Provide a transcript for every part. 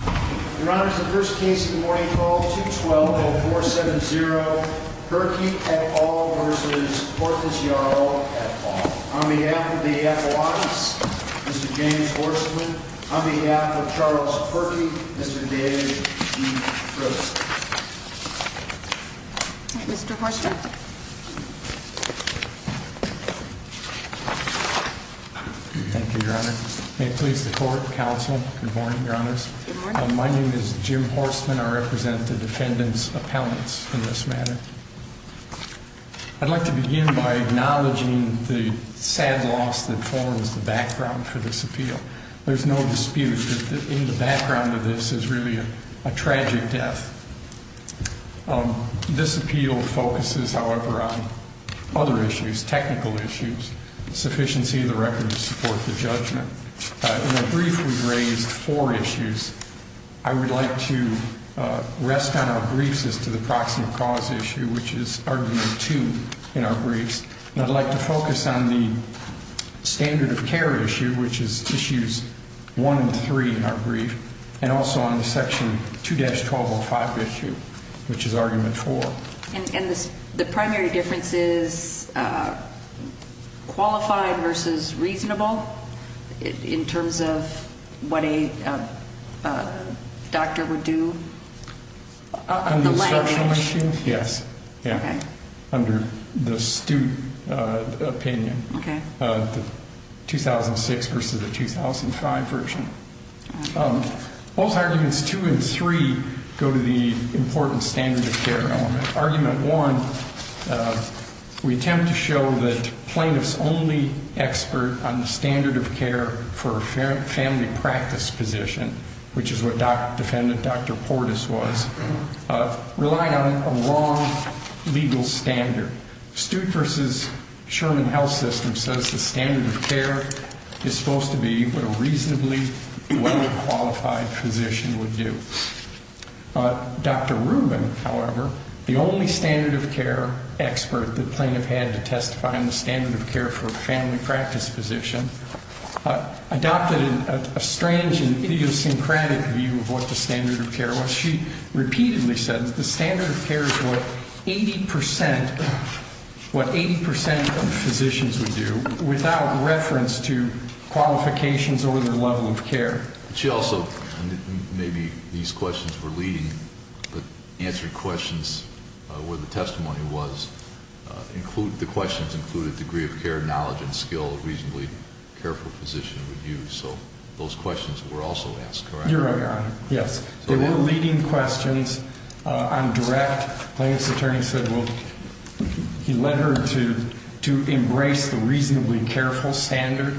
Your Honor, the first case of the morning, 12-212-470, Perkey v. Portes-Jarol, on behalf of the F. Law Office, Mr. James Horstman, on behalf of Charles Perkey, Mr. Dave E. Trost. Mr. Horstman. Thank you, Your Honor. May it please the court, counsel, good morning, Your Honors. Good morning. My name is Jim Horstman. I represent the defendant's appellants in this matter. I'd like to begin by acknowledging the sad loss that forms the background for this appeal. There's no dispute that in the background of this is really a tragic death. This appeal focuses, however, on other issues, technical issues, sufficiency of the record to support the judgment. In our brief, we've raised four issues. I would like to rest on our briefs as to the proximate cause issue, which is Argument 2 in our briefs. And I'd like to focus on the standard of care issue, which is Issues 1 and 3 in our brief, and also on the Section 2-1205 issue, which is Argument 4. And the primary difference is qualified versus reasonable in terms of what a doctor would do? On the instructional issue, yes. Okay. Under the student opinion. Okay. The 2006 versus the 2005 version. Both Arguments 2 and 3 go to the important standard of care element. Argument 1, we attempt to show that plaintiffs' only expert on the standard of care for a family practice position, which is what defendant Dr. Portis was, relied on a wrong legal standard. Stude versus Sherman Health System says the standard of care is supposed to be what a reasonably well-qualified physician would do. Dr. Rubin, however, the only standard of care expert the plaintiff had to testify on the standard of care for a family practice position, adopted a strange and idiosyncratic view of what the standard of care was. She repeatedly said the standard of care is what 80% of physicians would do without reference to qualifications or their level of care. She also, maybe these questions were leading, but answering questions where the testimony was, the questions included degree of care, knowledge, and skill a reasonably careful physician would use. So those questions were also asked, correct? Your Honor, yes. They were leading questions on direct. Plaintiff's attorney said, well, he led her to embrace the reasonably careful standard.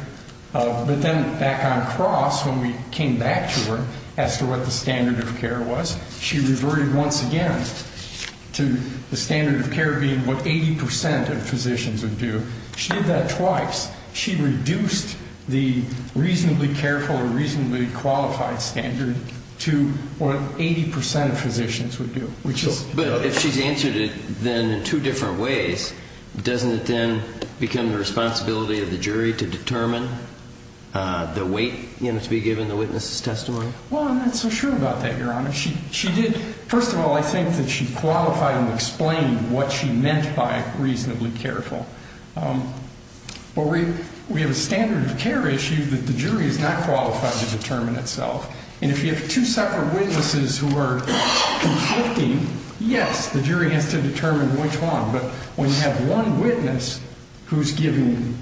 But then back on cross, when we came back to her as to what the standard of care was, she reverted once again to the standard of care being what 80% of physicians would do. She did that twice. She reduced the reasonably careful or reasonably qualified standard to what 80% of physicians would do. But if she's answered it then in two different ways, doesn't it then become the responsibility of the jury to determine the weight, you know, to be given the witness's testimony? Well, I'm not so sure about that, Your Honor. She did, first of all, I think that she qualified and explained what she meant by reasonably careful. But we have a standard of care issue that the jury is not qualified to determine itself. And if you have two separate witnesses who are conflicting, yes, the jury has to determine which one. But when you have one witness who's giving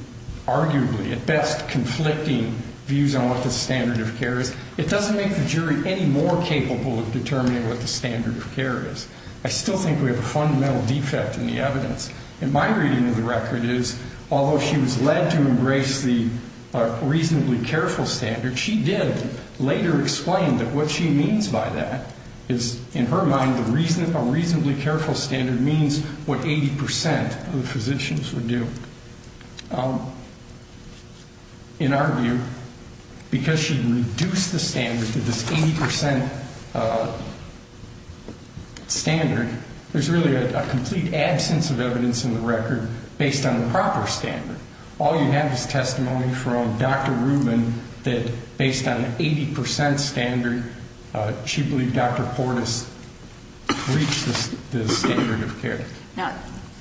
arguably at best conflicting views on what the standard of care is, it doesn't make the jury any more capable of determining what the standard of care is. I still think we have a fundamental defect in the evidence. And my reading of the record is although she was led to embrace the reasonably careful standard, she did later explain that what she means by that is in her mind a reasonably careful standard means what 80% of the physicians would do. In our view, because she reduced the standard to this 80% standard, there's really a complete absence of evidence in the record based on the proper standard. All you have is testimony from Dr. Rubin that based on 80% standard, she believed Dr. Portis reached the standard of care. Now,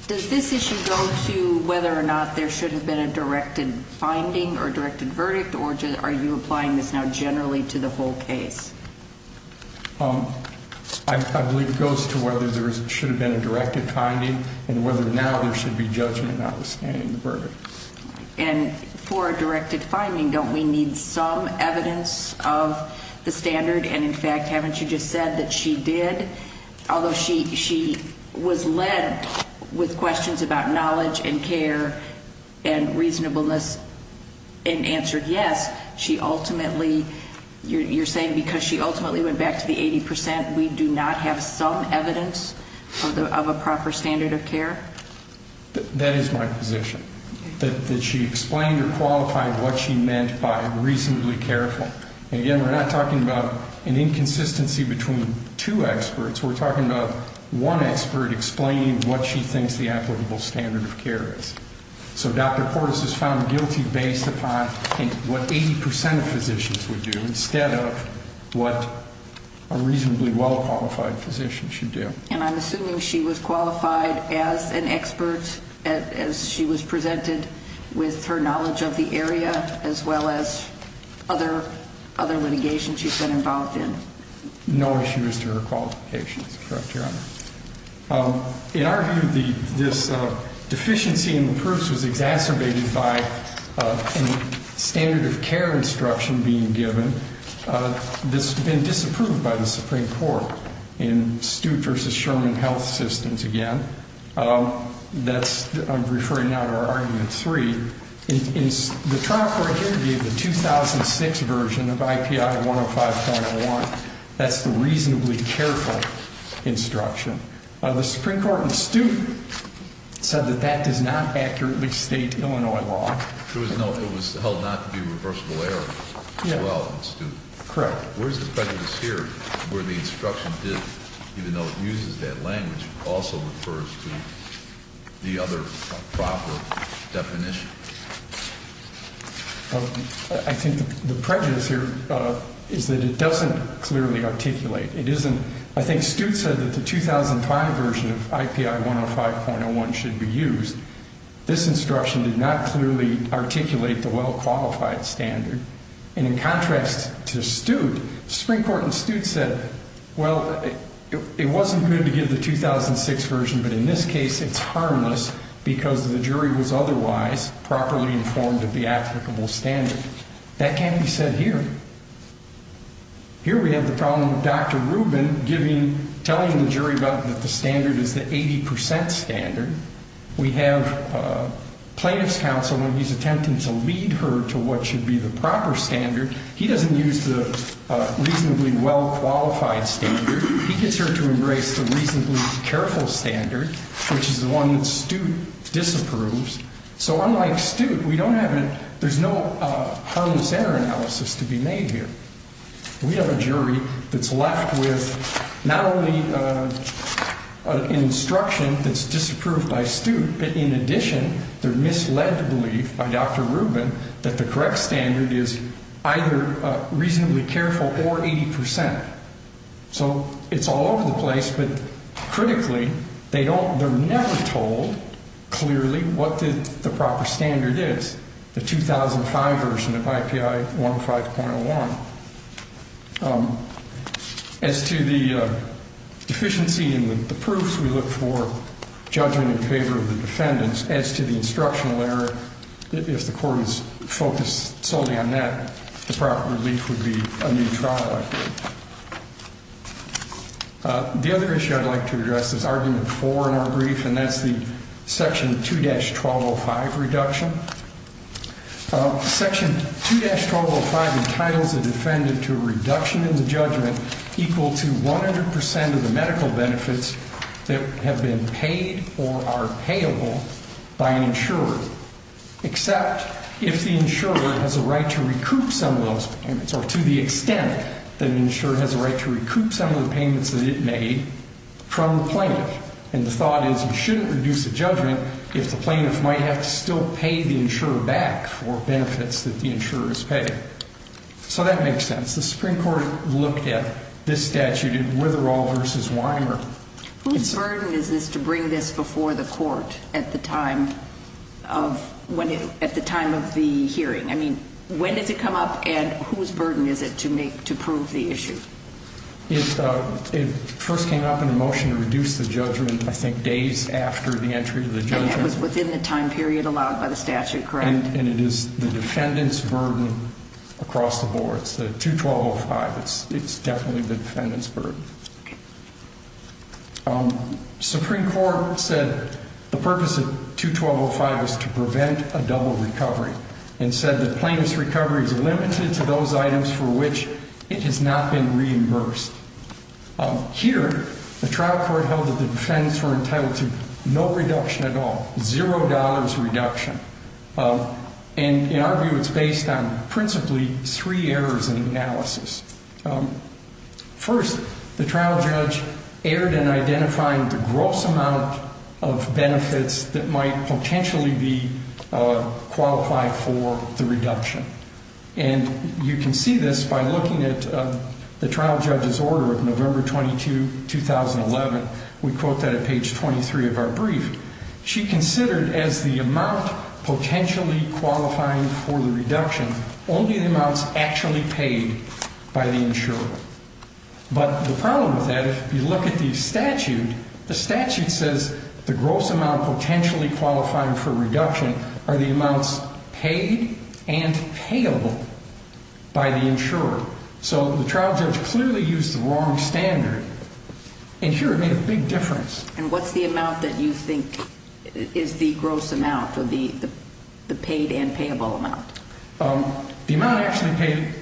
does this issue go to whether or not there should have been a directed finding or directed verdict? Or are you applying this now generally to the whole case? I believe it goes to whether there should have been a directed finding and whether or not there should be judgment notwithstanding the verdict. And for a directed finding, don't we need some evidence of the standard? And in fact, haven't you just said that she did, although she was led with questions about knowledge and care and reasonableness and answered yes, she ultimately, you're saying because she ultimately went back to the 80%, we do not have some evidence of a proper standard of care? That is my position, that she explained or qualified what she meant by reasonably careful. And again, we're not talking about an inconsistency between two experts. We're talking about one expert explaining what she thinks the applicable standard of care is. So Dr. Portis is found guilty based upon what 80% of physicians would do instead of what a reasonably well-qualified physician should do. And I'm assuming she was qualified as an expert as she was presented with her knowledge of the area as well as other litigation she's been involved in. No issues to her qualifications, correct, Your Honor. In our view, this deficiency in the proofs was exacerbated by a standard of care instruction being given. This has been disapproved by the Supreme Court in Stute v. Sherman Health Systems again. I'm referring now to our Argument 3. The trial court here gave the 2006 version of IPI 105.1. That's the reasonably careful instruction. The Supreme Court in Stute said that that does not accurately state Illinois law. It was held not to be a reversible error. Correct. Where's the prejudice here where the instruction did, even though it uses that language, also refers to the other proper definition? I think the prejudice here is that it doesn't clearly articulate. It isn't. I think Stute said that the 2005 version of IPI 105.1 should be used. This instruction did not clearly articulate the well-qualified standard. And in contrast to Stute, the Supreme Court in Stute said, well, it wasn't good to give the 2006 version, but in this case it's harmless because the jury was otherwise properly informed of the applicable standard. That can't be said here. Here we have the problem of Dr. Rubin telling the jury that the standard is the 80 percent standard. We have plaintiff's counsel and he's attempting to lead her to what should be the proper standard. He doesn't use the reasonably well-qualified standard. He gets her to embrace the reasonably careful standard, which is the one that Stute disapproves. So unlike Stute, we don't have a there's no harmless error analysis to be made here. We have a jury that's left with not only an instruction that's disapproved by Stute, but in addition their misled belief by Dr. Rubin that the correct standard is either reasonably careful or 80 percent. So it's all over the place. But critically, they don't they're never told clearly what the proper standard is, the 2005 version of IPI 15.01. As to the deficiency in the proofs, we look for judgment in favor of the defendants. As to the instructional error, if the court is focused solely on that, the proper relief would be a new trial. The other issue I'd like to address is argument four in our brief, and that's the section 2-1205 reduction. Section 2-1205 entitles a defendant to a reduction in the judgment equal to 100 percent of the medical benefits that have been paid or are payable by an insurer, except if the insurer has a right to recoup some of those payments or to the extent that an insurer has a right to recoup some of the payments that it made from the plaintiff. And the thought is you shouldn't reduce the judgment if the plaintiff might have to still pay the insurer back for benefits that the insurers pay. So that makes sense. The Supreme Court looked at this statute in Witherell v. Weimer. Whose burden is this to bring this before the court at the time of the hearing? I mean, when does it come up, and whose burden is it to prove the issue? It first came up in a motion to reduce the judgment, I think, days after the entry of the judgment. And that was within the time period allowed by the statute, correct? And it is the defendant's burden across the board. It's the 212.05. It's definitely the defendant's burden. Supreme Court said the purpose of 212.05 is to prevent a double recovery and said that plaintiff's recovery is limited to those items for which it has not been reimbursed. Here, the trial court held that the defendants were entitled to no reduction at all, zero dollars reduction. And in our view, it's based on principally three errors in analysis. First, the trial judge erred in identifying the gross amount of benefits that might potentially be qualified for the reduction. And you can see this by looking at the trial judge's order of November 22, 2011. We quote that at page 23 of our brief. She considered as the amount potentially qualifying for the reduction only the amounts actually paid by the insurer. But the problem with that, if you look at the statute, the statute says the gross amount potentially qualifying for reduction are the amounts paid and payable by the insurer. So the trial judge clearly used the wrong standard. And here it made a big difference. And what's the amount that you think is the gross amount or the paid and payable amount? The amount actually paid,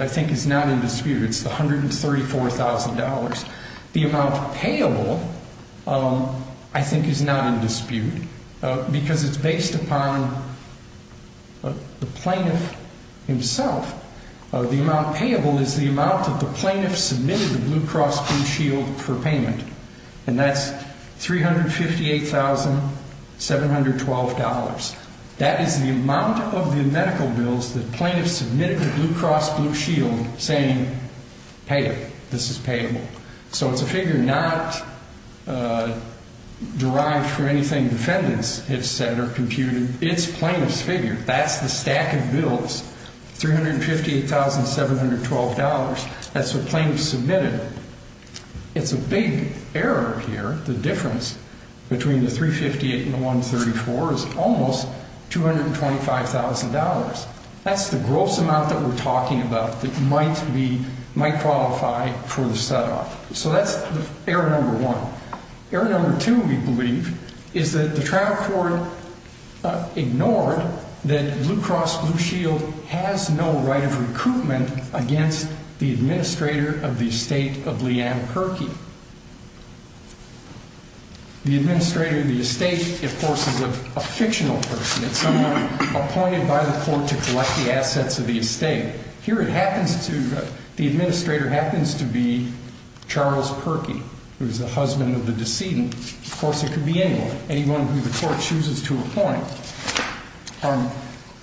I think, is not in dispute. It's $134,000. The amount payable, I think, is not in dispute because it's based upon the plaintiff himself. The amount payable is the amount that the plaintiff submitted to Blue Cross Blue Shield for payment. And that's $358,712. That is the amount of the medical bills that plaintiffs submitted to Blue Cross Blue Shield saying, hey, this is payable. So it's a figure not derived from anything defendants have said or computed. It's plaintiff's figure. That's the stack of bills, $358,712. That's what plaintiffs submitted. It's a big error here. The difference between the $358,000 and the $134,000 is almost $225,000. That's the gross amount that we're talking about that might qualify for the set-off. So that's error number one. Error number two, we believe, is that the trial court ignored that Blue Cross Blue Shield has no right of recruitment against the administrator of the estate of Leanne Perkey. The administrator of the estate, of course, is a fictional person. It's someone appointed by the court to collect the assets of the estate. Here it happens to, the administrator happens to be Charles Perkey, who is the husband of the decedent. Of course, it could be anyone, anyone who the court chooses to appoint.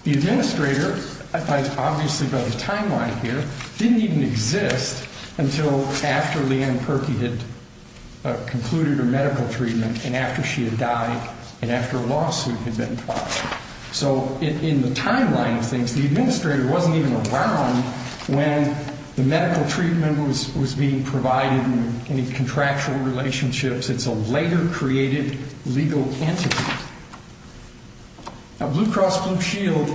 The administrator, obviously by the timeline here, didn't even exist until after Leanne Perkey had concluded her medical treatment and after she had died and after a lawsuit had been filed. So in the timeline of things, the administrator wasn't even around when the medical treatment was being provided and any contractual relationships. It's a later created legal entity. Now, Blue Cross Blue Shield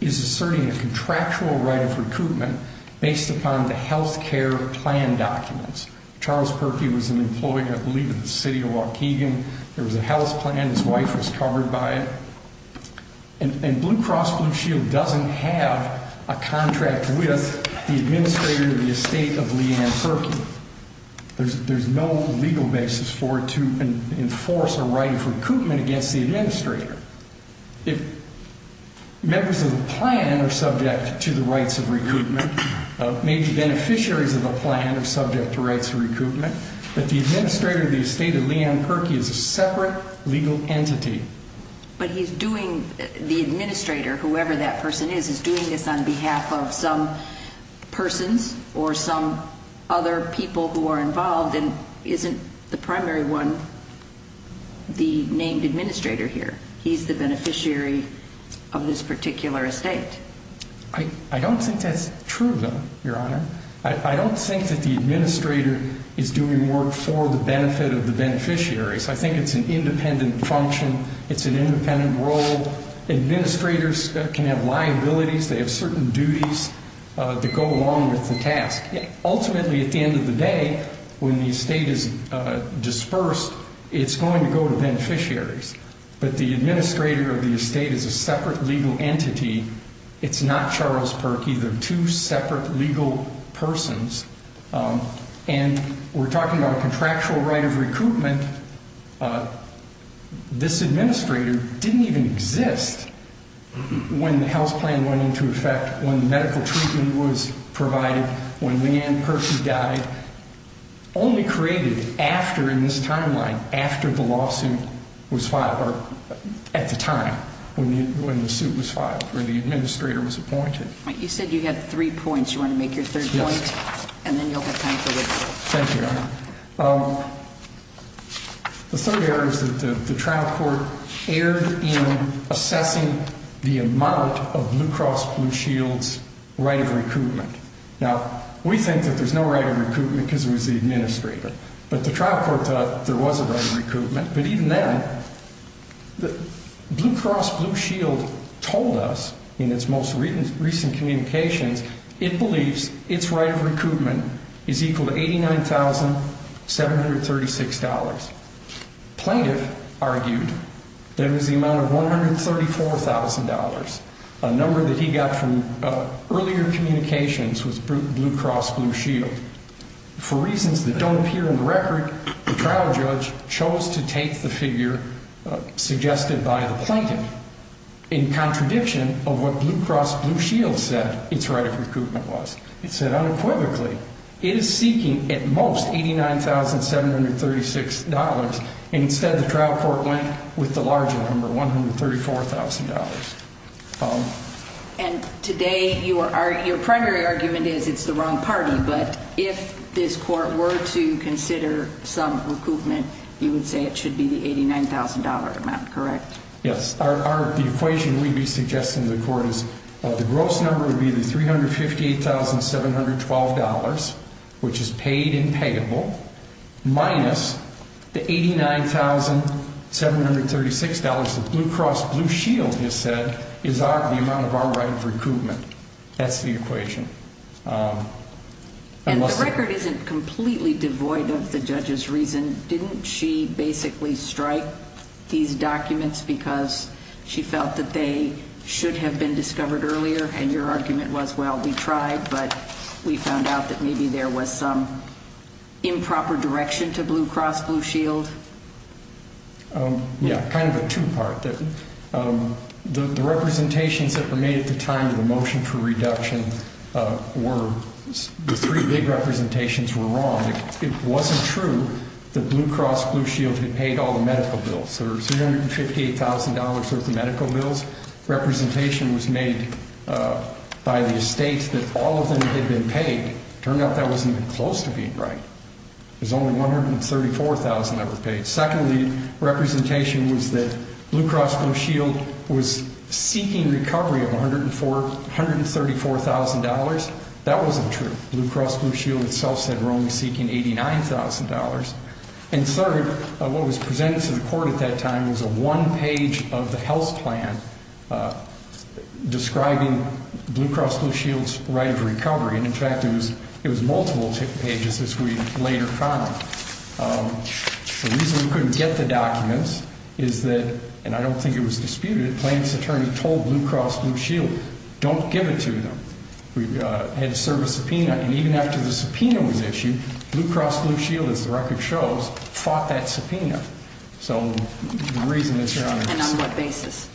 is asserting a contractual right of recruitment based upon the health care plan documents. Charles Perkey was an employee, I believe, of the city of Waukegan. There was a health plan, his wife was covered by it. And Blue Cross Blue Shield doesn't have a contract with the administrator of the estate of Leanne Perkey. There's no legal basis for it to enforce a right of recruitment against the administrator. If members of the plan are subject to the rights of recruitment, maybe beneficiaries of the plan are subject to rights of recruitment, but the administrator of the estate of Leanne Perkey is a separate legal entity. But he's doing, the administrator, whoever that person is, is doing this on behalf of some persons or some other people who are involved and isn't the primary one, the named administrator here. He's the beneficiary of this particular estate. I don't think that's true, though, Your Honor. I don't think that the administrator is doing work for the benefit of the beneficiaries. I think it's an independent function. It's an independent role. Administrators can have liabilities. They have certain duties that go along with the task. Ultimately, at the end of the day, when the estate is dispersed, it's going to go to beneficiaries. But the administrator of the estate is a separate legal entity. It's not Charles Perkey. They're two separate legal persons. And we're talking about a contractual right of recruitment. This administrator didn't even exist when the health plan went into effect, when the medical treatment was provided, when Lee Ann Perkey died, only created after, in this timeline, after the lawsuit was filed, or at the time when the suit was filed, when the administrator was appointed. You said you had three points. You want to make your third point? Yes. And then you'll have time for this. Thank you, Your Honor. The third area is that the trial court erred in assessing the amount of Blue Cross Blue Shield's right of recruitment. Now, we think that there's no right of recruitment because it was the administrator. But the trial court thought there was a right of recruitment. But even then, Blue Cross Blue Shield told us, in its most recent communications, it believes its right of recruitment is equal to $89,736. Plaintiff argued that it was the amount of $134,000, a number that he got from earlier communications with Blue Cross Blue Shield. For reasons that don't appear in the record, the trial judge chose to take the figure suggested by the plaintiff in contradiction of what Blue Cross Blue Shield said its right of recruitment was. It said unequivocally it is seeking, at most, $89,736. Instead, the trial court went with the larger number, $134,000. And today, your primary argument is it's the wrong party. But if this court were to consider some recruitment, you would say it should be the $89,000 amount, correct? Yes. The equation we'd be suggesting to the court is the gross number would be the $358,712, which is paid and payable, minus the $89,736 that Blue Cross Blue Shield has said is the amount of our right of recruitment. That's the equation. And the record isn't completely devoid of the judge's reason. Didn't she basically strike these documents because she felt that they should have been discovered earlier? And your argument was, well, we tried, but we found out that maybe there was some improper direction to Blue Cross Blue Shield? Yeah, kind of a two-part. The representations that were made at the time of the motion for reduction were the three big representations were wrong. It wasn't true that Blue Cross Blue Shield had paid all the medical bills. There were $358,000 worth of medical bills. Representation was made by the estates that all of them had been paid. Turned out that wasn't even close to being right. There was only $134,000 that were paid. Secondly, representation was that Blue Cross Blue Shield was seeking recovery of $134,000. That wasn't true. Blue Cross Blue Shield itself said we're only seeking $89,000. And third, what was presented to the court at that time was a one-page of the health plan describing Blue Cross Blue Shield's right of recovery. And, in fact, it was multiple pages as we later found. The reason we couldn't get the documents is that, and I don't think it was disputed, the plaintiff's attorney told Blue Cross Blue Shield, don't give it to them. We had to serve a subpoena. And even after the subpoena was issued, Blue Cross Blue Shield, as the record shows, fought that subpoena. So the reason is your Honor. And on what basis?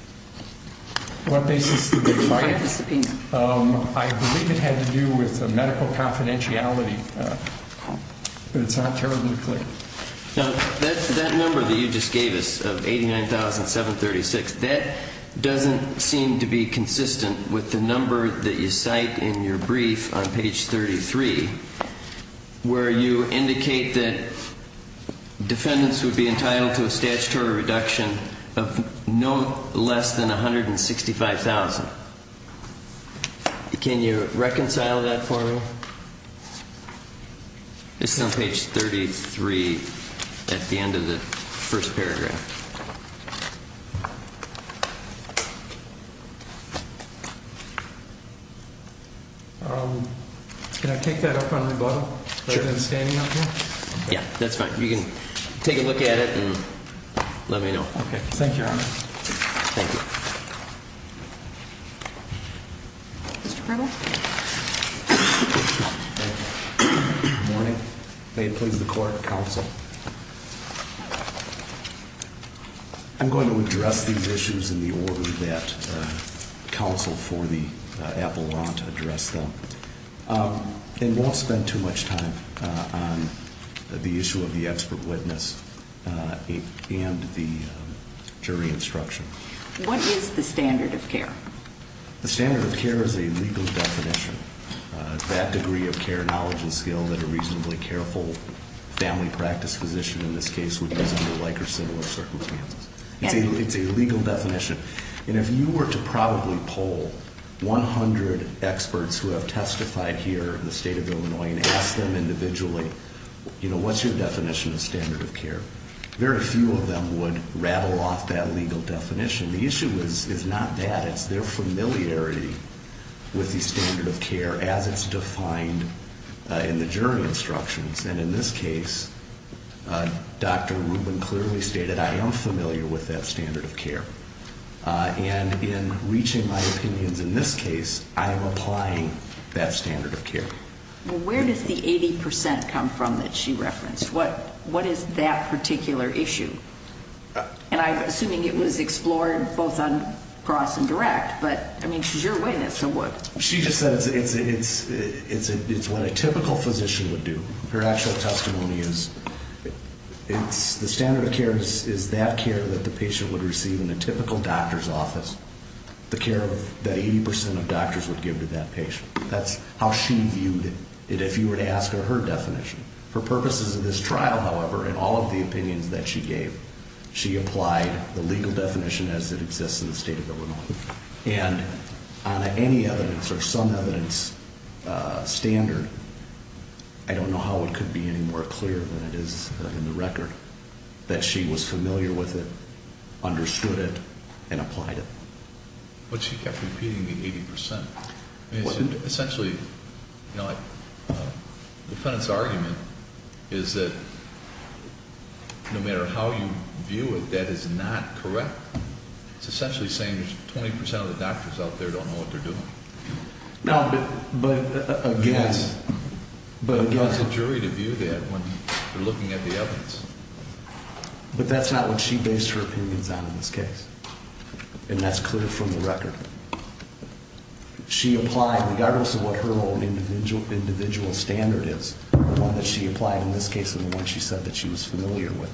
What basis did they fight it? I believe it had to do with medical confidentiality. But it's not terribly clear. Now, that number that you just gave us of $89,736, that doesn't seem to be consistent with the number that you cite in your brief on page 33, where you indicate that defendants would be entitled to a statutory reduction of no less than $165,000. Can you reconcile that for me? This is on page 33 at the end of the first paragraph. Can I take that up on rebuttal? Sure. Rather than standing up here? Yeah, that's fine. You can take a look at it and let me know. Okay. Thank you, Your Honor. Thank you. Mr. Kregel? Good morning. May it please the Court, counsel. I'm going to address these issues in the order that counsel for the appellant addressed them. And won't spend too much time on the issue of the expert witness and the jury instruction. What is the standard of care? The standard of care is a legal definition. That degree of care knowledge and skill that a reasonably careful family practice physician in this case would use under Likerson or circumstances. It's a legal definition. And if you were to probably poll 100 experts who have testified here in the state of Illinois and ask them individually, you know, what's your definition of standard of care? Very few of them would rattle off that legal definition. The issue is not that. It's their familiarity with the standard of care as it's defined in the jury instructions. And in this case, Dr. Rubin clearly stated, I am familiar with that standard of care. And in reaching my opinions in this case, I am applying that standard of care. Well, where does the 80% come from that she referenced? What is that particular issue? And I'm assuming it was explored both on cross and direct. But, I mean, she's your witness, so what? She just said it's what a typical physician would do. Her actual testimony is the standard of care is that care that the patient would receive in a typical doctor's office, the care that 80% of doctors would give to that patient. That's how she viewed it if you were to ask her her definition. For purposes of this trial, however, in all of the opinions that she gave, she applied the legal definition as it exists in the state of Illinois. And on any evidence or some evidence standard, I don't know how it could be any more clear than it is in the record, that she was familiar with it, understood it, and applied it. But she kept repeating the 80%. Essentially, the defendant's argument is that no matter how you view it, that is not correct. It's essentially saying that 20% of the doctors out there don't know what they're doing. No, but again. It's a jury to view that when they're looking at the evidence. But that's not what she based her opinions on in this case. And that's clear from the record. She applied, regardless of what her own individual standard is, the one that she applied in this case and the one she said that she was familiar with,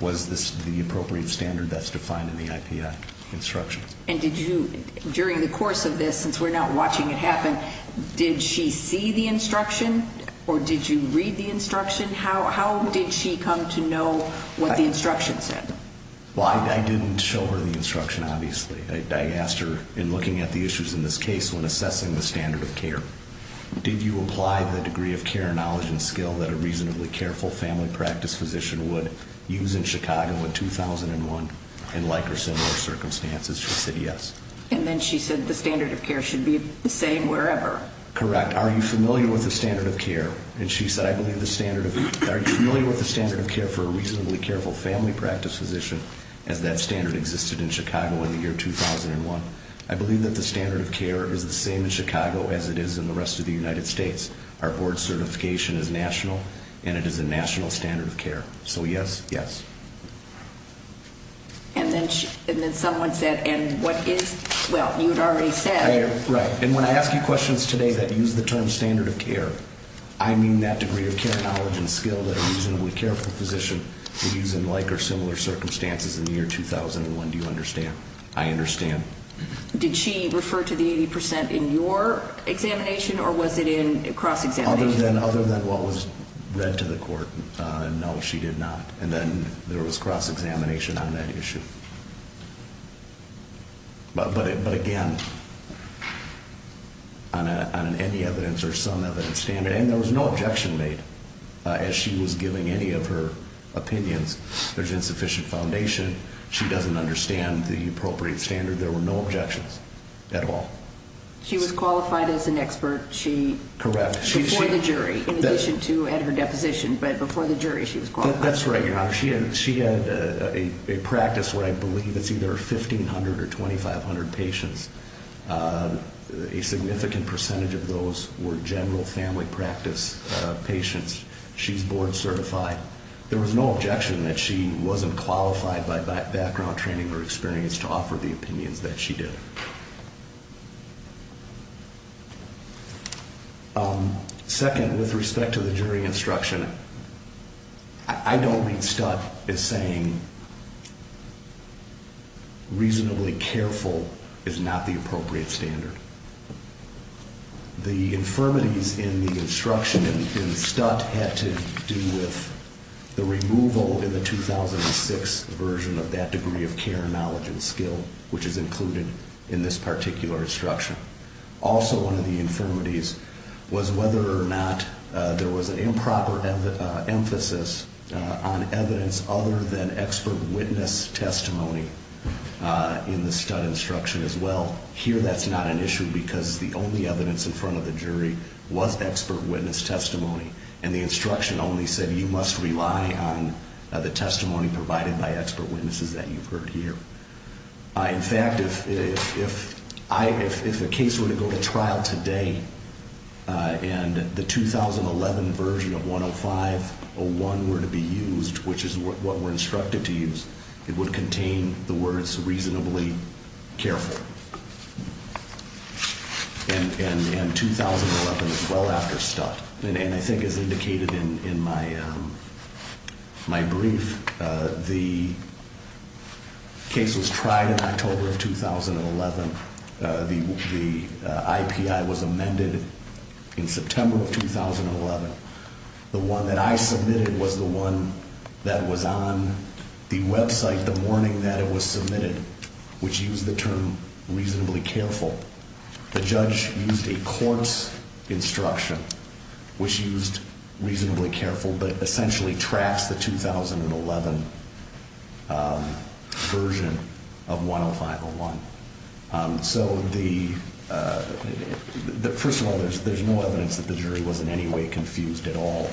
was the appropriate standard that's defined in the IPI instruction. And did you, during the course of this, since we're not watching it happen, did she see the instruction or did you read the instruction? How did she come to know what the instruction said? Well, I didn't show her the instruction, obviously. I asked her, in looking at the issues in this case, when assessing the standard of care, did you apply the degree of care, knowledge, and skill that a reasonably careful family practice physician would use in Chicago in 2001 in like or similar circumstances? She said yes. And then she said the standard of care should be the same wherever. Correct. Are you familiar with the standard of care? And she said, I believe the standard of care for a reasonably careful family practice physician, as that standard existed in Chicago in the year 2001, I believe that the standard of care is the same in Chicago as it is in the rest of the United States. Our board certification is national, and it is a national standard of care. So yes, yes. And then someone said, and what is, well, you had already said. Right. And when I ask you questions today that use the term standard of care, I mean that degree of care, knowledge, and skill that a reasonably careful physician would use in like or similar circumstances in the year 2001, do you understand? I understand. Did she refer to the 80% in your examination, or was it in cross-examination? Other than what was read to the court, no, she did not. And then there was cross-examination on that issue. But, again, on any evidence or some evidence standard, and there was no objection made as she was giving any of her opinions. There's insufficient foundation. She doesn't understand the appropriate standard. There were no objections at all. She was qualified as an expert. Correct. Before the jury, in addition to at her deposition, but before the jury she was qualified. That's right, Your Honor. She had a practice where I believe it's either 1,500 or 2,500 patients. A significant percentage of those were general family practice patients. She's board certified. There was no objection that she wasn't qualified by background training or experience to offer the opinions that she did. Second, with respect to the jury instruction, I don't mean Stutt as saying reasonably careful is not the appropriate standard. The infirmities in the instruction in Stutt had to do with the removal in the 2006 version of that degree of care, knowledge, and skill, which is included in this particular instruction. Also one of the infirmities was whether or not there was an improper emphasis on evidence other than expert witness testimony in the Stutt instruction as well. Here that's not an issue because the only evidence in front of the jury was expert witness testimony, and the instruction only said you must rely on the testimony provided by expert witnesses that you've heard here. In fact, if a case were to go to trial today and the 2011 version of 105.01 were to be used, which is what we're instructed to use, it would contain the words reasonably careful. And 2011 is well after Stutt. And I think as indicated in my brief, the case was tried in October of 2011. The IPI was amended in September of 2011. The one that I submitted was the one that was on the website the morning that it was submitted, which used the term reasonably careful. The judge used a court's instruction, which used reasonably careful, but essentially traps the 2011 version of 105.01. So first of all, there's no evidence that the jury was in any way confused at all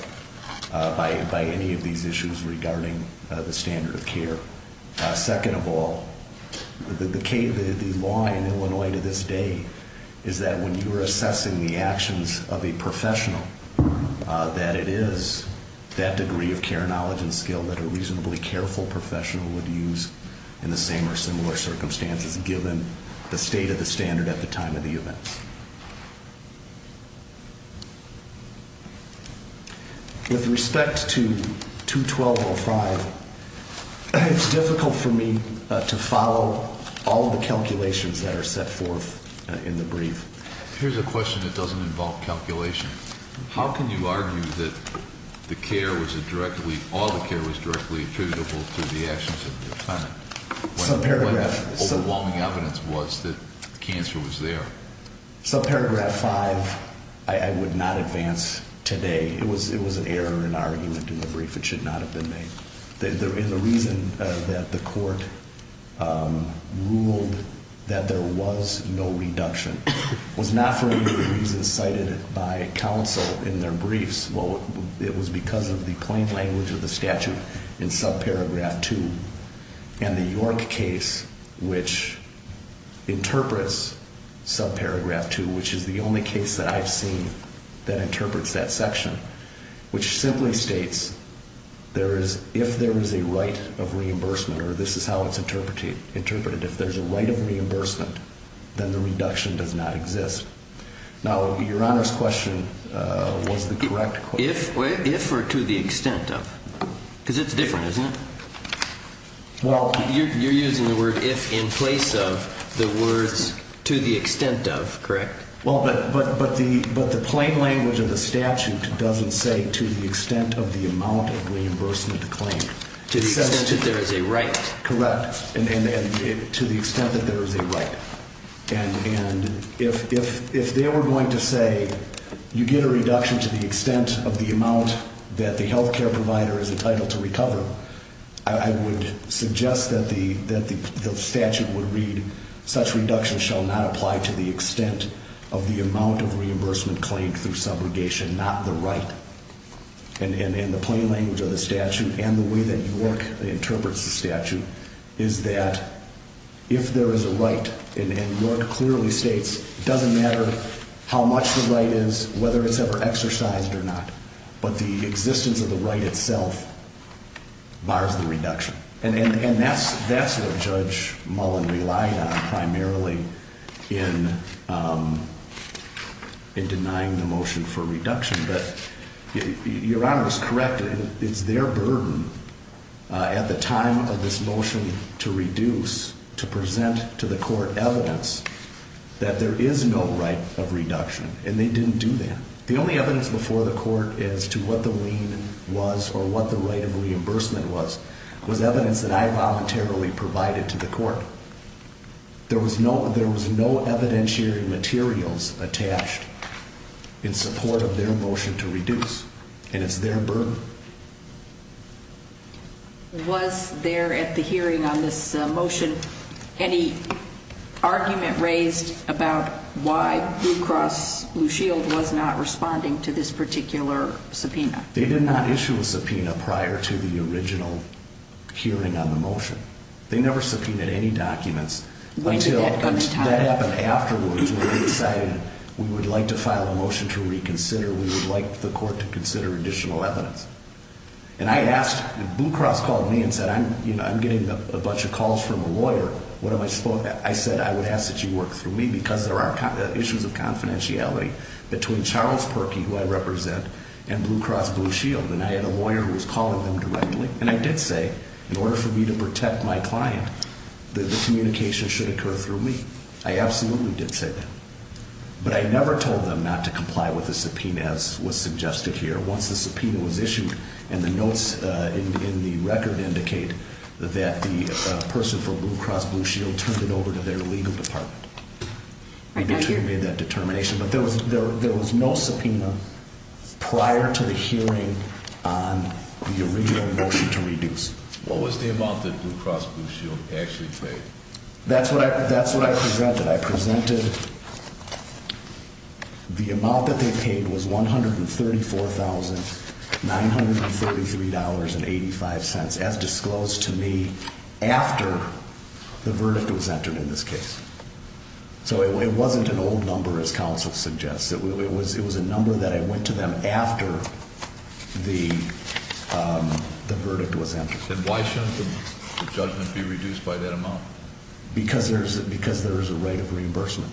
by any of these issues regarding the standard of care. Second of all, the law in Illinois to this day is that when you are assessing the actions of a professional, that it is that degree of care, knowledge, and skill that a reasonably careful professional would use in the same or similar circumstances given the state of the standard at the time of the event. With respect to 212.05, it's difficult for me to follow all of the calculations that are set forth in the brief. Here's a question that doesn't involve calculation. How can you argue that all the care was directly attributable to the actions of the defendant? What overwhelming evidence was that the cancer was there? Subparagraph 5, I would not advance today. It was an error in argument in the brief. It should not have been made. And the reason that the court ruled that there was no reduction was not for any of the reasons cited by counsel in their briefs. It was because of the plain language of the statute in subparagraph 2 and the York case which interprets subparagraph 2, which is the only case that I've seen that interprets that section, which simply states if there is a right of reimbursement, or this is how it's interpreted, if there's a right of reimbursement, then the reduction does not exist. Now, Your Honor's question was the correct question. If or to the extent of? Because it's different, isn't it? You're using the word if in place of the words to the extent of, correct? But the plain language of the statute doesn't say to the extent of the amount of reimbursement claimed. To the extent that there is a right. Correct. To the extent that there is a right. And if they were going to say you get a reduction to the extent of the amount that the health care provider is entitled to recover, I would suggest that the statute would read, such reduction shall not apply to the extent of the amount of reimbursement claimed through subrogation, not the right. And the plain language of the statute and the way that York interprets the statute is that if there is a right, and York clearly states, it doesn't matter how much the right is, whether it's ever exercised or not, but the existence of the right itself bars the reduction. And that's what Judge Mullen relied on primarily in denying the motion for reduction. Your Honor is correct. It's their burden at the time of this motion to reduce to present to the court evidence that there is no right of reduction, and they didn't do that. The only evidence before the court as to what the lien was or what the right of reimbursement was was evidence that I voluntarily provided to the court. There was no evidentiary materials attached in support of their motion to reduce, and it's their burden. Was there at the hearing on this motion any argument raised about why Blue Cross Blue Shield was not responding to this particular subpoena? They did not issue a subpoena prior to the original hearing on the motion. They never subpoenaed any documents until that happened afterwards when we decided we would like to file a motion to reconsider. We would like the court to consider additional evidence. And Blue Cross called me and said, I'm getting a bunch of calls from a lawyer. I said, I would ask that you work through me because there are issues of confidentiality between Charles Perkey, who I represent, and Blue Cross Blue Shield. And I had a lawyer who was calling them directly. And I did say, in order for me to protect my client, that the communication should occur through me. I absolutely did say that. But I never told them not to comply with the subpoena as was suggested here. Once the subpoena was issued and the notes in the record indicate that the person from Blue Cross Blue Shield turned it over to their legal department, we determined that determination. But there was no subpoena prior to the hearing on the original motion to reduce. What was the amount that Blue Cross Blue Shield actually paid? That's what I presented. I presented the amount that they paid was $134,933.85, as disclosed to me after the verdict was entered in this case. So it wasn't an old number, as counsel suggests. It was a number that I went to them after the verdict was entered. And why shouldn't the judgment be reduced by that amount? Because there is a right of reimbursement.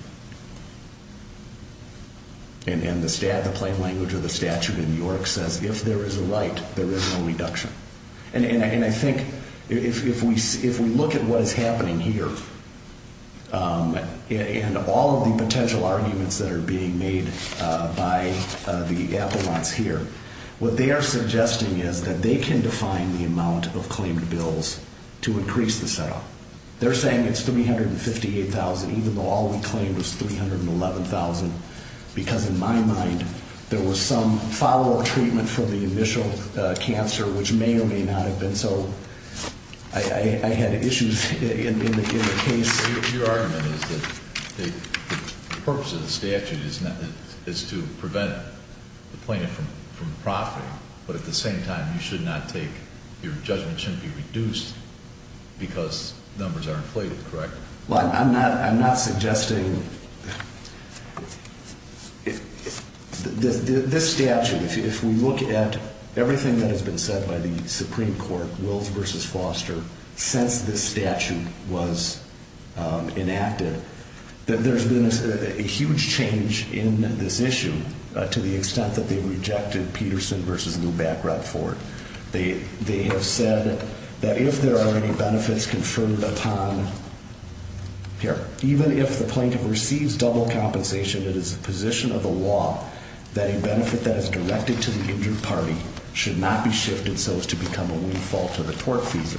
And the plain language of the statute in New York says if there is a right, there is no reduction. And I think if we look at what is happening here and all of the potential arguments that are being made by the appellants here, what they are suggesting is that they can define the amount of claimed bills to increase the setup. They're saying it's $358,000 even though all we claimed was $311,000 because in my mind there was some follow-up treatment for the initial cancer which may or may not have been so. I had issues in the case. Your argument is that the purpose of the statute is to prevent the plaintiff from profiting, but at the same time your judgment should not be reduced because numbers are inflated, correct? Well, I'm not suggesting... This statute, if we look at everything that has been said by the Supreme Court, Wills v. Foster, since this statute was enacted, there's been a huge change in this issue to the extent that they rejected Peterson v. Lou Bacroft for it. They have said that if there are any benefits conferred upon, even if the plaintiff receives double compensation, it is the position of the law that a benefit that is directed to the injured party should not be shifted so as to become a windfall to the tort fees.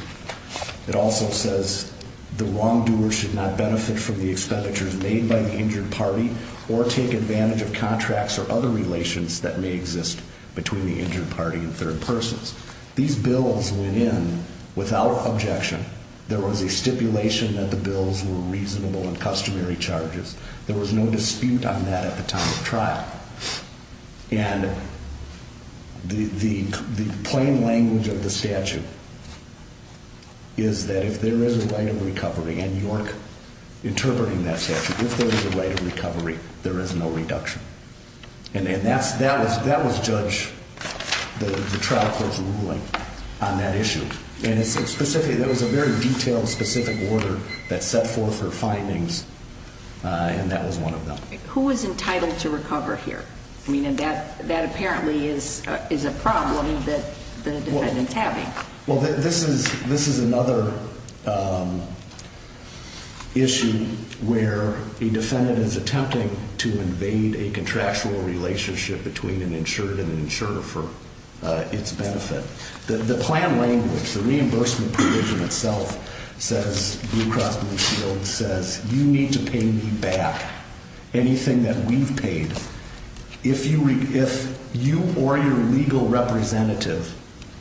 It also says the wrongdoer should not benefit from the expenditures made by the injured party or take advantage of contracts or other relations that may exist between the injured party and third persons. These bills went in without objection. There was a stipulation that the bills were reasonable and customary charges. There was no dispute on that at the time of trial. And the plain language of the statute is that if there is a right of recovery, and York interpreting that statute, if there is a right of recovery, there is no reduction. And that was judge, the trial court's ruling on that issue. And specifically, there was a very detailed, specific order that set forth her findings, and that was one of them. Who is entitled to recover here? I mean, that apparently is a problem that the defendant's having. Well, this is another issue where a defendant is attempting to invade a contractual relationship between an insured and an insurer for its benefit. The plan language, the reimbursement provision itself says, Blue Cross Blue Shield says, You need to pay me back anything that we've paid. If you or your legal representative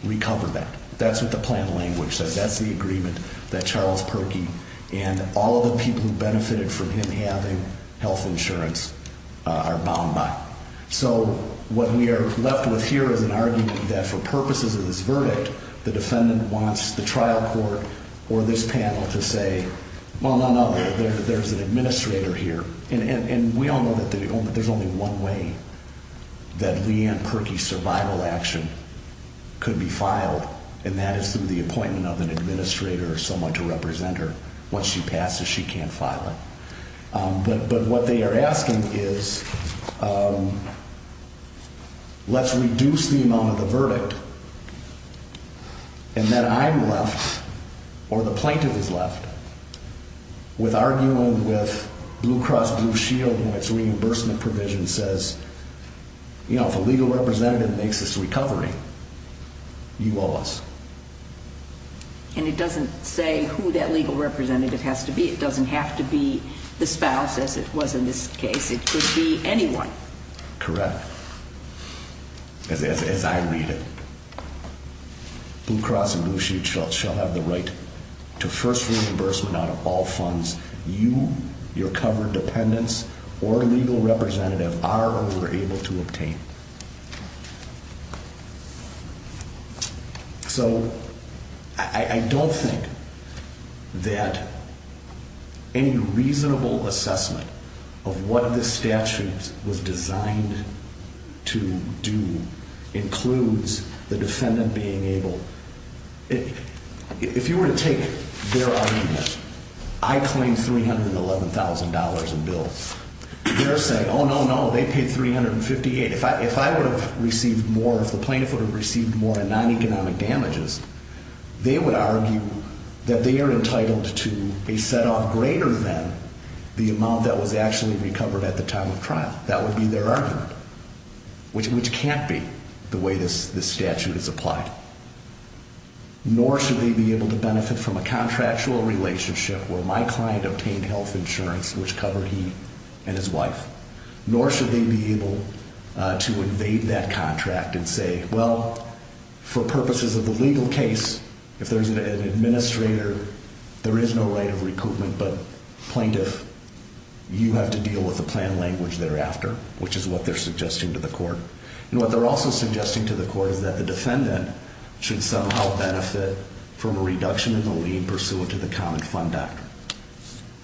recover that, that's what the plan language says. That's the agreement that Charles Perkey and all of the people who benefited from him having health insurance are bound by. So what we are left with here is an argument that for purposes of this verdict, the defendant wants the trial court or this panel to say, Well, no, no, there's an administrator here. And we all know that there's only one way that Leigh Ann Perkey's survival action could be filed, and that is through the appointment of an administrator or someone to represent her. Once she passes, she can't file it. But what they are asking is let's reduce the amount of the verdict. And then I'm left or the plaintiff is left with arguing with Blue Cross Blue Shield and its reimbursement provision says, You know, if a legal representative makes this recovery, you owe us. And it doesn't say who that legal representative has to be. It doesn't have to be the spouse, as it was in this case. It could be anyone. Correct. As I read it. Blue Cross and Blue Shield shall have the right to first reimbursement out of all funds. You, your covered dependents or legal representative are or were able to obtain. So I don't think that any reasonable assessment of what the statute was designed to do includes the defendant being able. If you were to take their argument, I claim $311,000 in bills. They're saying, Oh, no, no, they paid 358. If I if I would have received more of the plaintiff would have received more than non-economic damages, they would argue that they are entitled to a set off greater than the amount that was actually recovered at the time of trial. That would be their argument, which which can't be the way this statute is applied. Nor should they be able to benefit from a contractual relationship where my client obtained health insurance, which covered he and his wife. Nor should they be able to invade that contract and say, well, for purposes of the legal case, if there is an administrator, there is no right of recoupment. But plaintiff, you have to deal with the plan language thereafter, which is what they're suggesting to the court. And what they're also suggesting to the court is that the defendant should somehow benefit from a reduction in the lien pursuant to the common fund.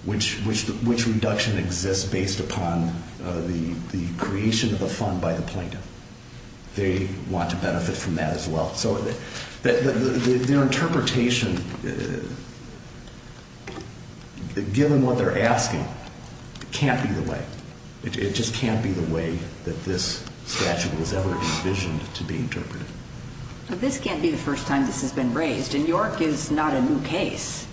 Which which which reduction exists based upon the creation of a fund by the plaintiff. They want to benefit from that as well. So their interpretation, given what they're asking, can't be the way it just can't be the way that this statute was ever envisioned to be interpreted. This can't be the first time this has been raised in York is not a new case.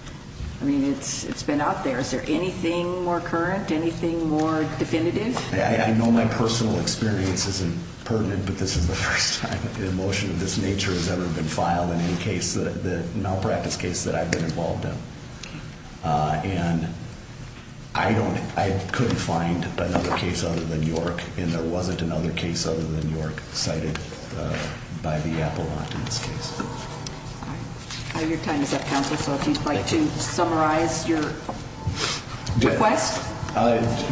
I mean, it's it's been out there. Is there anything more current, anything more definitive? I know my personal experience isn't pertinent, but this is the first time an emotion of this nature has ever been filed in any case that malpractice case that I've been involved in. And I don't I couldn't find another case other than York. And there wasn't another case other than York cited by the appellant in this case. Your time is up, counsel. So if you'd like to summarize your request.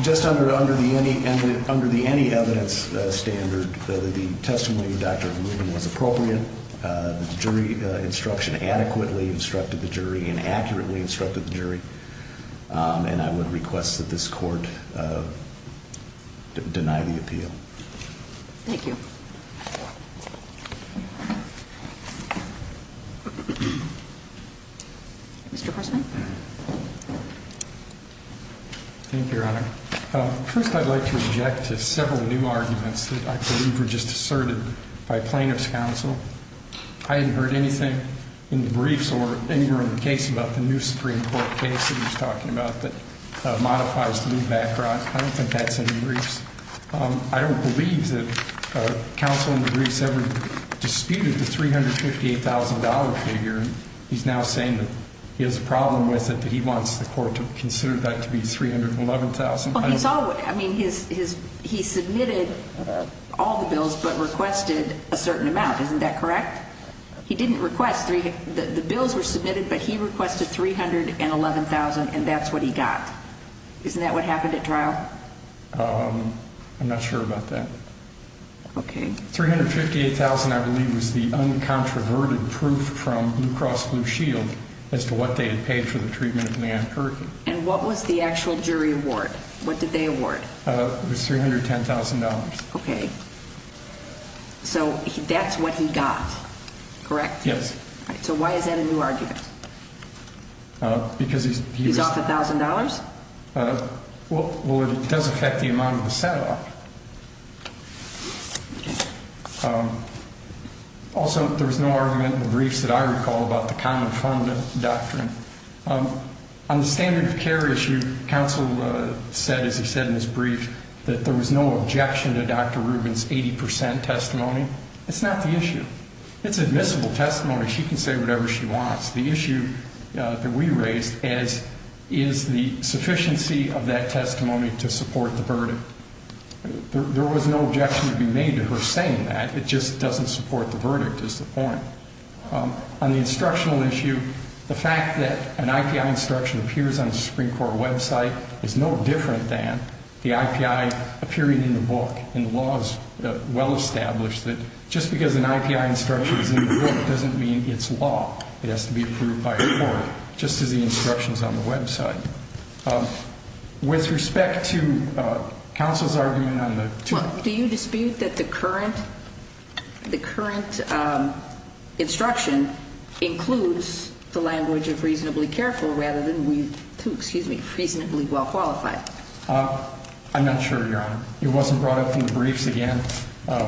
Just under under the any under the any evidence standard, the testimony of Dr. Ruben was appropriate. The jury instruction adequately instructed the jury and accurately instructed the jury. And I would request that this court deny the appeal. Thank you. Mr. Thank you, Your Honor. First, I'd like to object to several new arguments that I believe were just asserted by plaintiff's counsel. I hadn't heard anything in the briefs or anywhere in the case about the new Supreme Court case that he was talking about that modifies the new background. I don't think that's in the briefs. I don't believe that counsel in the briefs ever disputed the three hundred fifty eight thousand dollar figure. He's now saying that he has a problem with it, that he wants the court to consider that to be three hundred and eleven thousand. I mean, his his he submitted all the bills but requested a certain amount. Isn't that correct? He didn't request three. The bills were submitted, but he requested three hundred and eleven thousand. And that's what he got. Isn't that what happened at trial? I'm not sure about that. Okay. Three hundred fifty eight thousand, I believe, was the uncontroverted proof from Blue Cross Blue Shield as to what they had paid for the treatment of Nan Perkins. And what was the actual jury award? What did they award? It was three hundred ten thousand dollars. Okay. So that's what he got. Correct? Yes. So why is that a new argument? Because he's off a thousand dollars? Well, it does affect the amount of the set up. Also, there was no argument in the briefs that I recall about the common fund doctrine. On the standard of care issue, counsel said, as he said in his brief, that there was no objection to Dr. Rubin's 80 percent testimony. It's not the issue. It's admissible testimony. She can say whatever she wants. The issue that we raised is, is the sufficiency of that testimony to support the verdict? There was no objection to be made to her saying that. It just doesn't support the verdict is the point. On the instructional issue, the fact that an IPI instruction appears on the Supreme Court website is no different than the IPI appearing in the book. And the law is well established that just because an IPI instruction is in the book doesn't mean it's law. It has to be approved by a court, just as the instructions on the website. With respect to counsel's argument on the two. Do you dispute that the current, the current instruction includes the language of reasonably careful rather than reasonably well qualified? I'm not sure, Your Honor. It wasn't brought up in the briefs again. I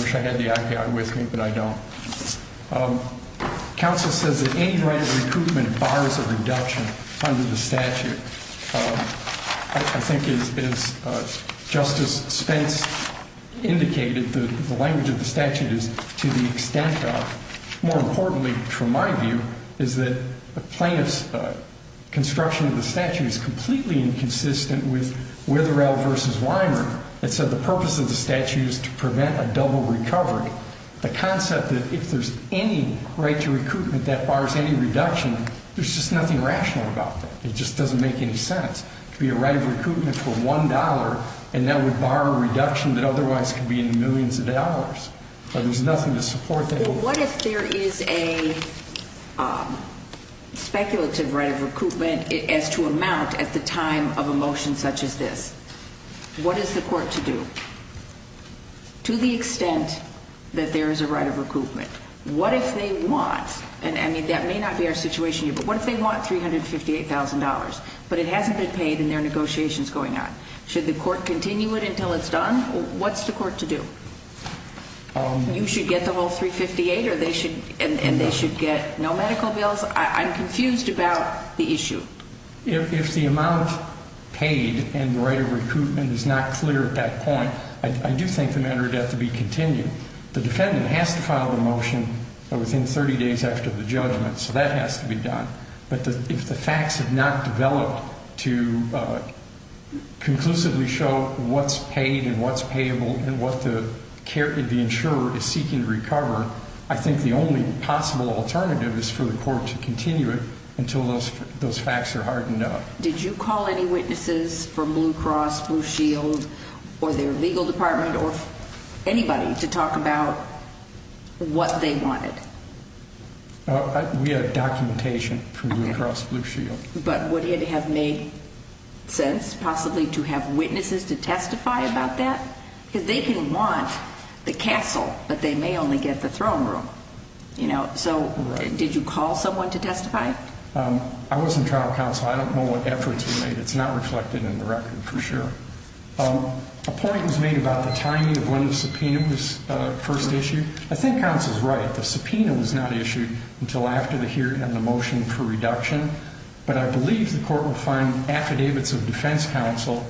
wish I had the IPI with me, but I don't. Counsel says that any right of recoupment bars a reduction under the statute. I think as Justice Spence indicated, the language of the statute is to the extent of. More importantly, from my view, is that the plaintiff's construction of the statute is completely inconsistent with Witherell v. Weimer. It said the purpose of the statute is to prevent a double recovery. The concept that if there's any right to recoupment that bars any reduction, there's just nothing rational about that. It just doesn't make any sense. To be a right of recoupment for $1 and that would bar a reduction that otherwise could be in millions of dollars. There's nothing to support that. What if there is a speculative right of recoupment as to amount at the time of a motion such as this? What is the court to do? To the extent that there is a right of recoupment. What if they want, and that may not be our situation here, but what if they want $358,000, but it hasn't been paid in their negotiations going on? Should the court continue it until it's done? What's the court to do? You should get the whole $358,000 and they should get no medical bills? I'm confused about the issue. If the amount paid and the right of recoupment is not clear at that point, I do think the matter would have to be continued. The defendant has to file the motion within 30 days after the judgment, so that has to be done. But if the facts have not developed to conclusively show what's paid and what's payable and what the insurer is seeking to recover, I think the only possible alternative is for the court to continue it until those facts are hardened up. Did you call any witnesses from Blue Cross Blue Shield or their legal department or anybody to talk about what they wanted? We had documentation from Blue Cross Blue Shield. But would it have made sense possibly to have witnesses to testify about that? Because they can want the castle, but they may only get the throne room. So did you call someone to testify? I was in trial counsel. I don't know what efforts were made. It's not reflected in the record for sure. A point was made about the timing of when the subpoena was first issued. I think counsel is right. The subpoena was not issued until after the hearing on the motion for reduction. But I believe the court will find affidavits of defense counsel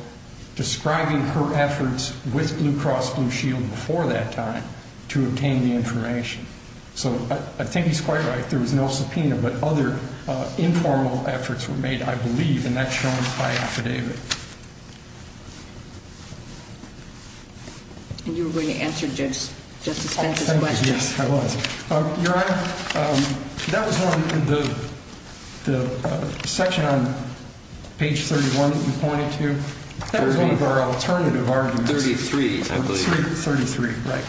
describing her efforts with Blue Cross Blue Shield before that time to obtain the information. So I think he's quite right. There was no subpoena, but other informal efforts were made, I believe, and that's shown by affidavit. And you were going to answer Justice Pence's question. Yes, I was. Your Honor, that was one of the sections on page 31 that you pointed to. That was one of our alternative arguments. 33, I believe. 33, right.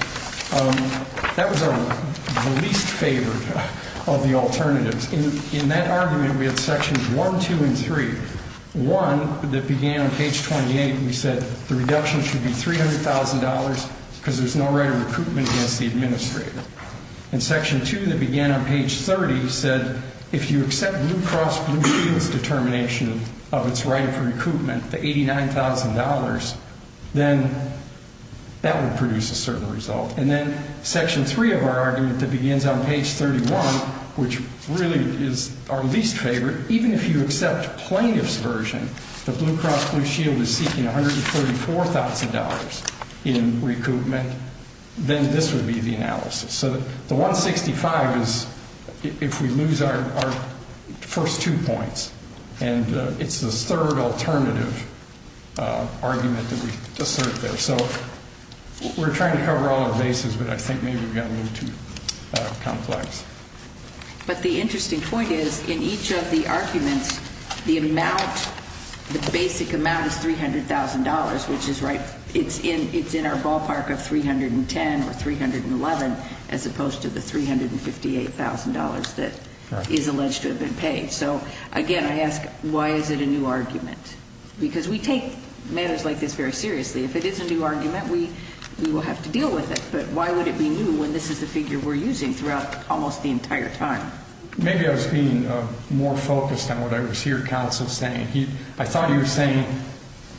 That was the least favored of the alternatives. In that argument, we had sections 1, 2, and 3. One that began on page 28, we said the reduction should be $300,000 because there's no right of recruitment against the administrator. And section 2 that began on page 30 said if you accept Blue Cross Blue Shield's determination of its right of recruitment, the $89,000, then that would produce a certain result. And then section 3 of our argument that begins on page 31, which really is our least favorite, even if you accept plaintiff's version that Blue Cross Blue Shield is seeking $134,000 in recruitment, then this would be the analysis. So the 165 is if we lose our first two points. And it's the third alternative argument that we assert there. So we're trying to cover all the bases, but I think maybe we got a little too complex. But the interesting point is in each of the arguments, the amount, the basic amount is $300,000, which is right. It's in our ballpark of $310,000 or $311,000 as opposed to the $358,000 that is alleged to have been paid. So, again, I ask why is it a new argument? Because we take matters like this very seriously. If it is a new argument, we will have to deal with it. But why would it be new when this is the figure we're using throughout almost the entire time? Maybe I was being more focused on what I was hearing counsel saying. I thought you were saying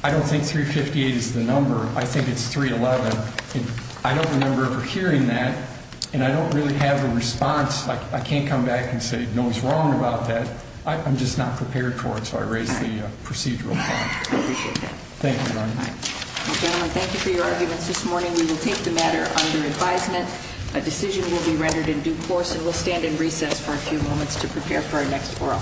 I don't think $358,000 is the number. I think it's $311,000. I don't remember ever hearing that, and I don't really have a response. I can't come back and say no one's wrong about that. I'm just not prepared for it, so I raise the procedural point. I appreciate that. Thank you. Gentlemen, thank you for your arguments this morning. We will take the matter under advisement. A decision will be rendered in due course, and we'll stand in recess for a few moments to prepare for our next oral.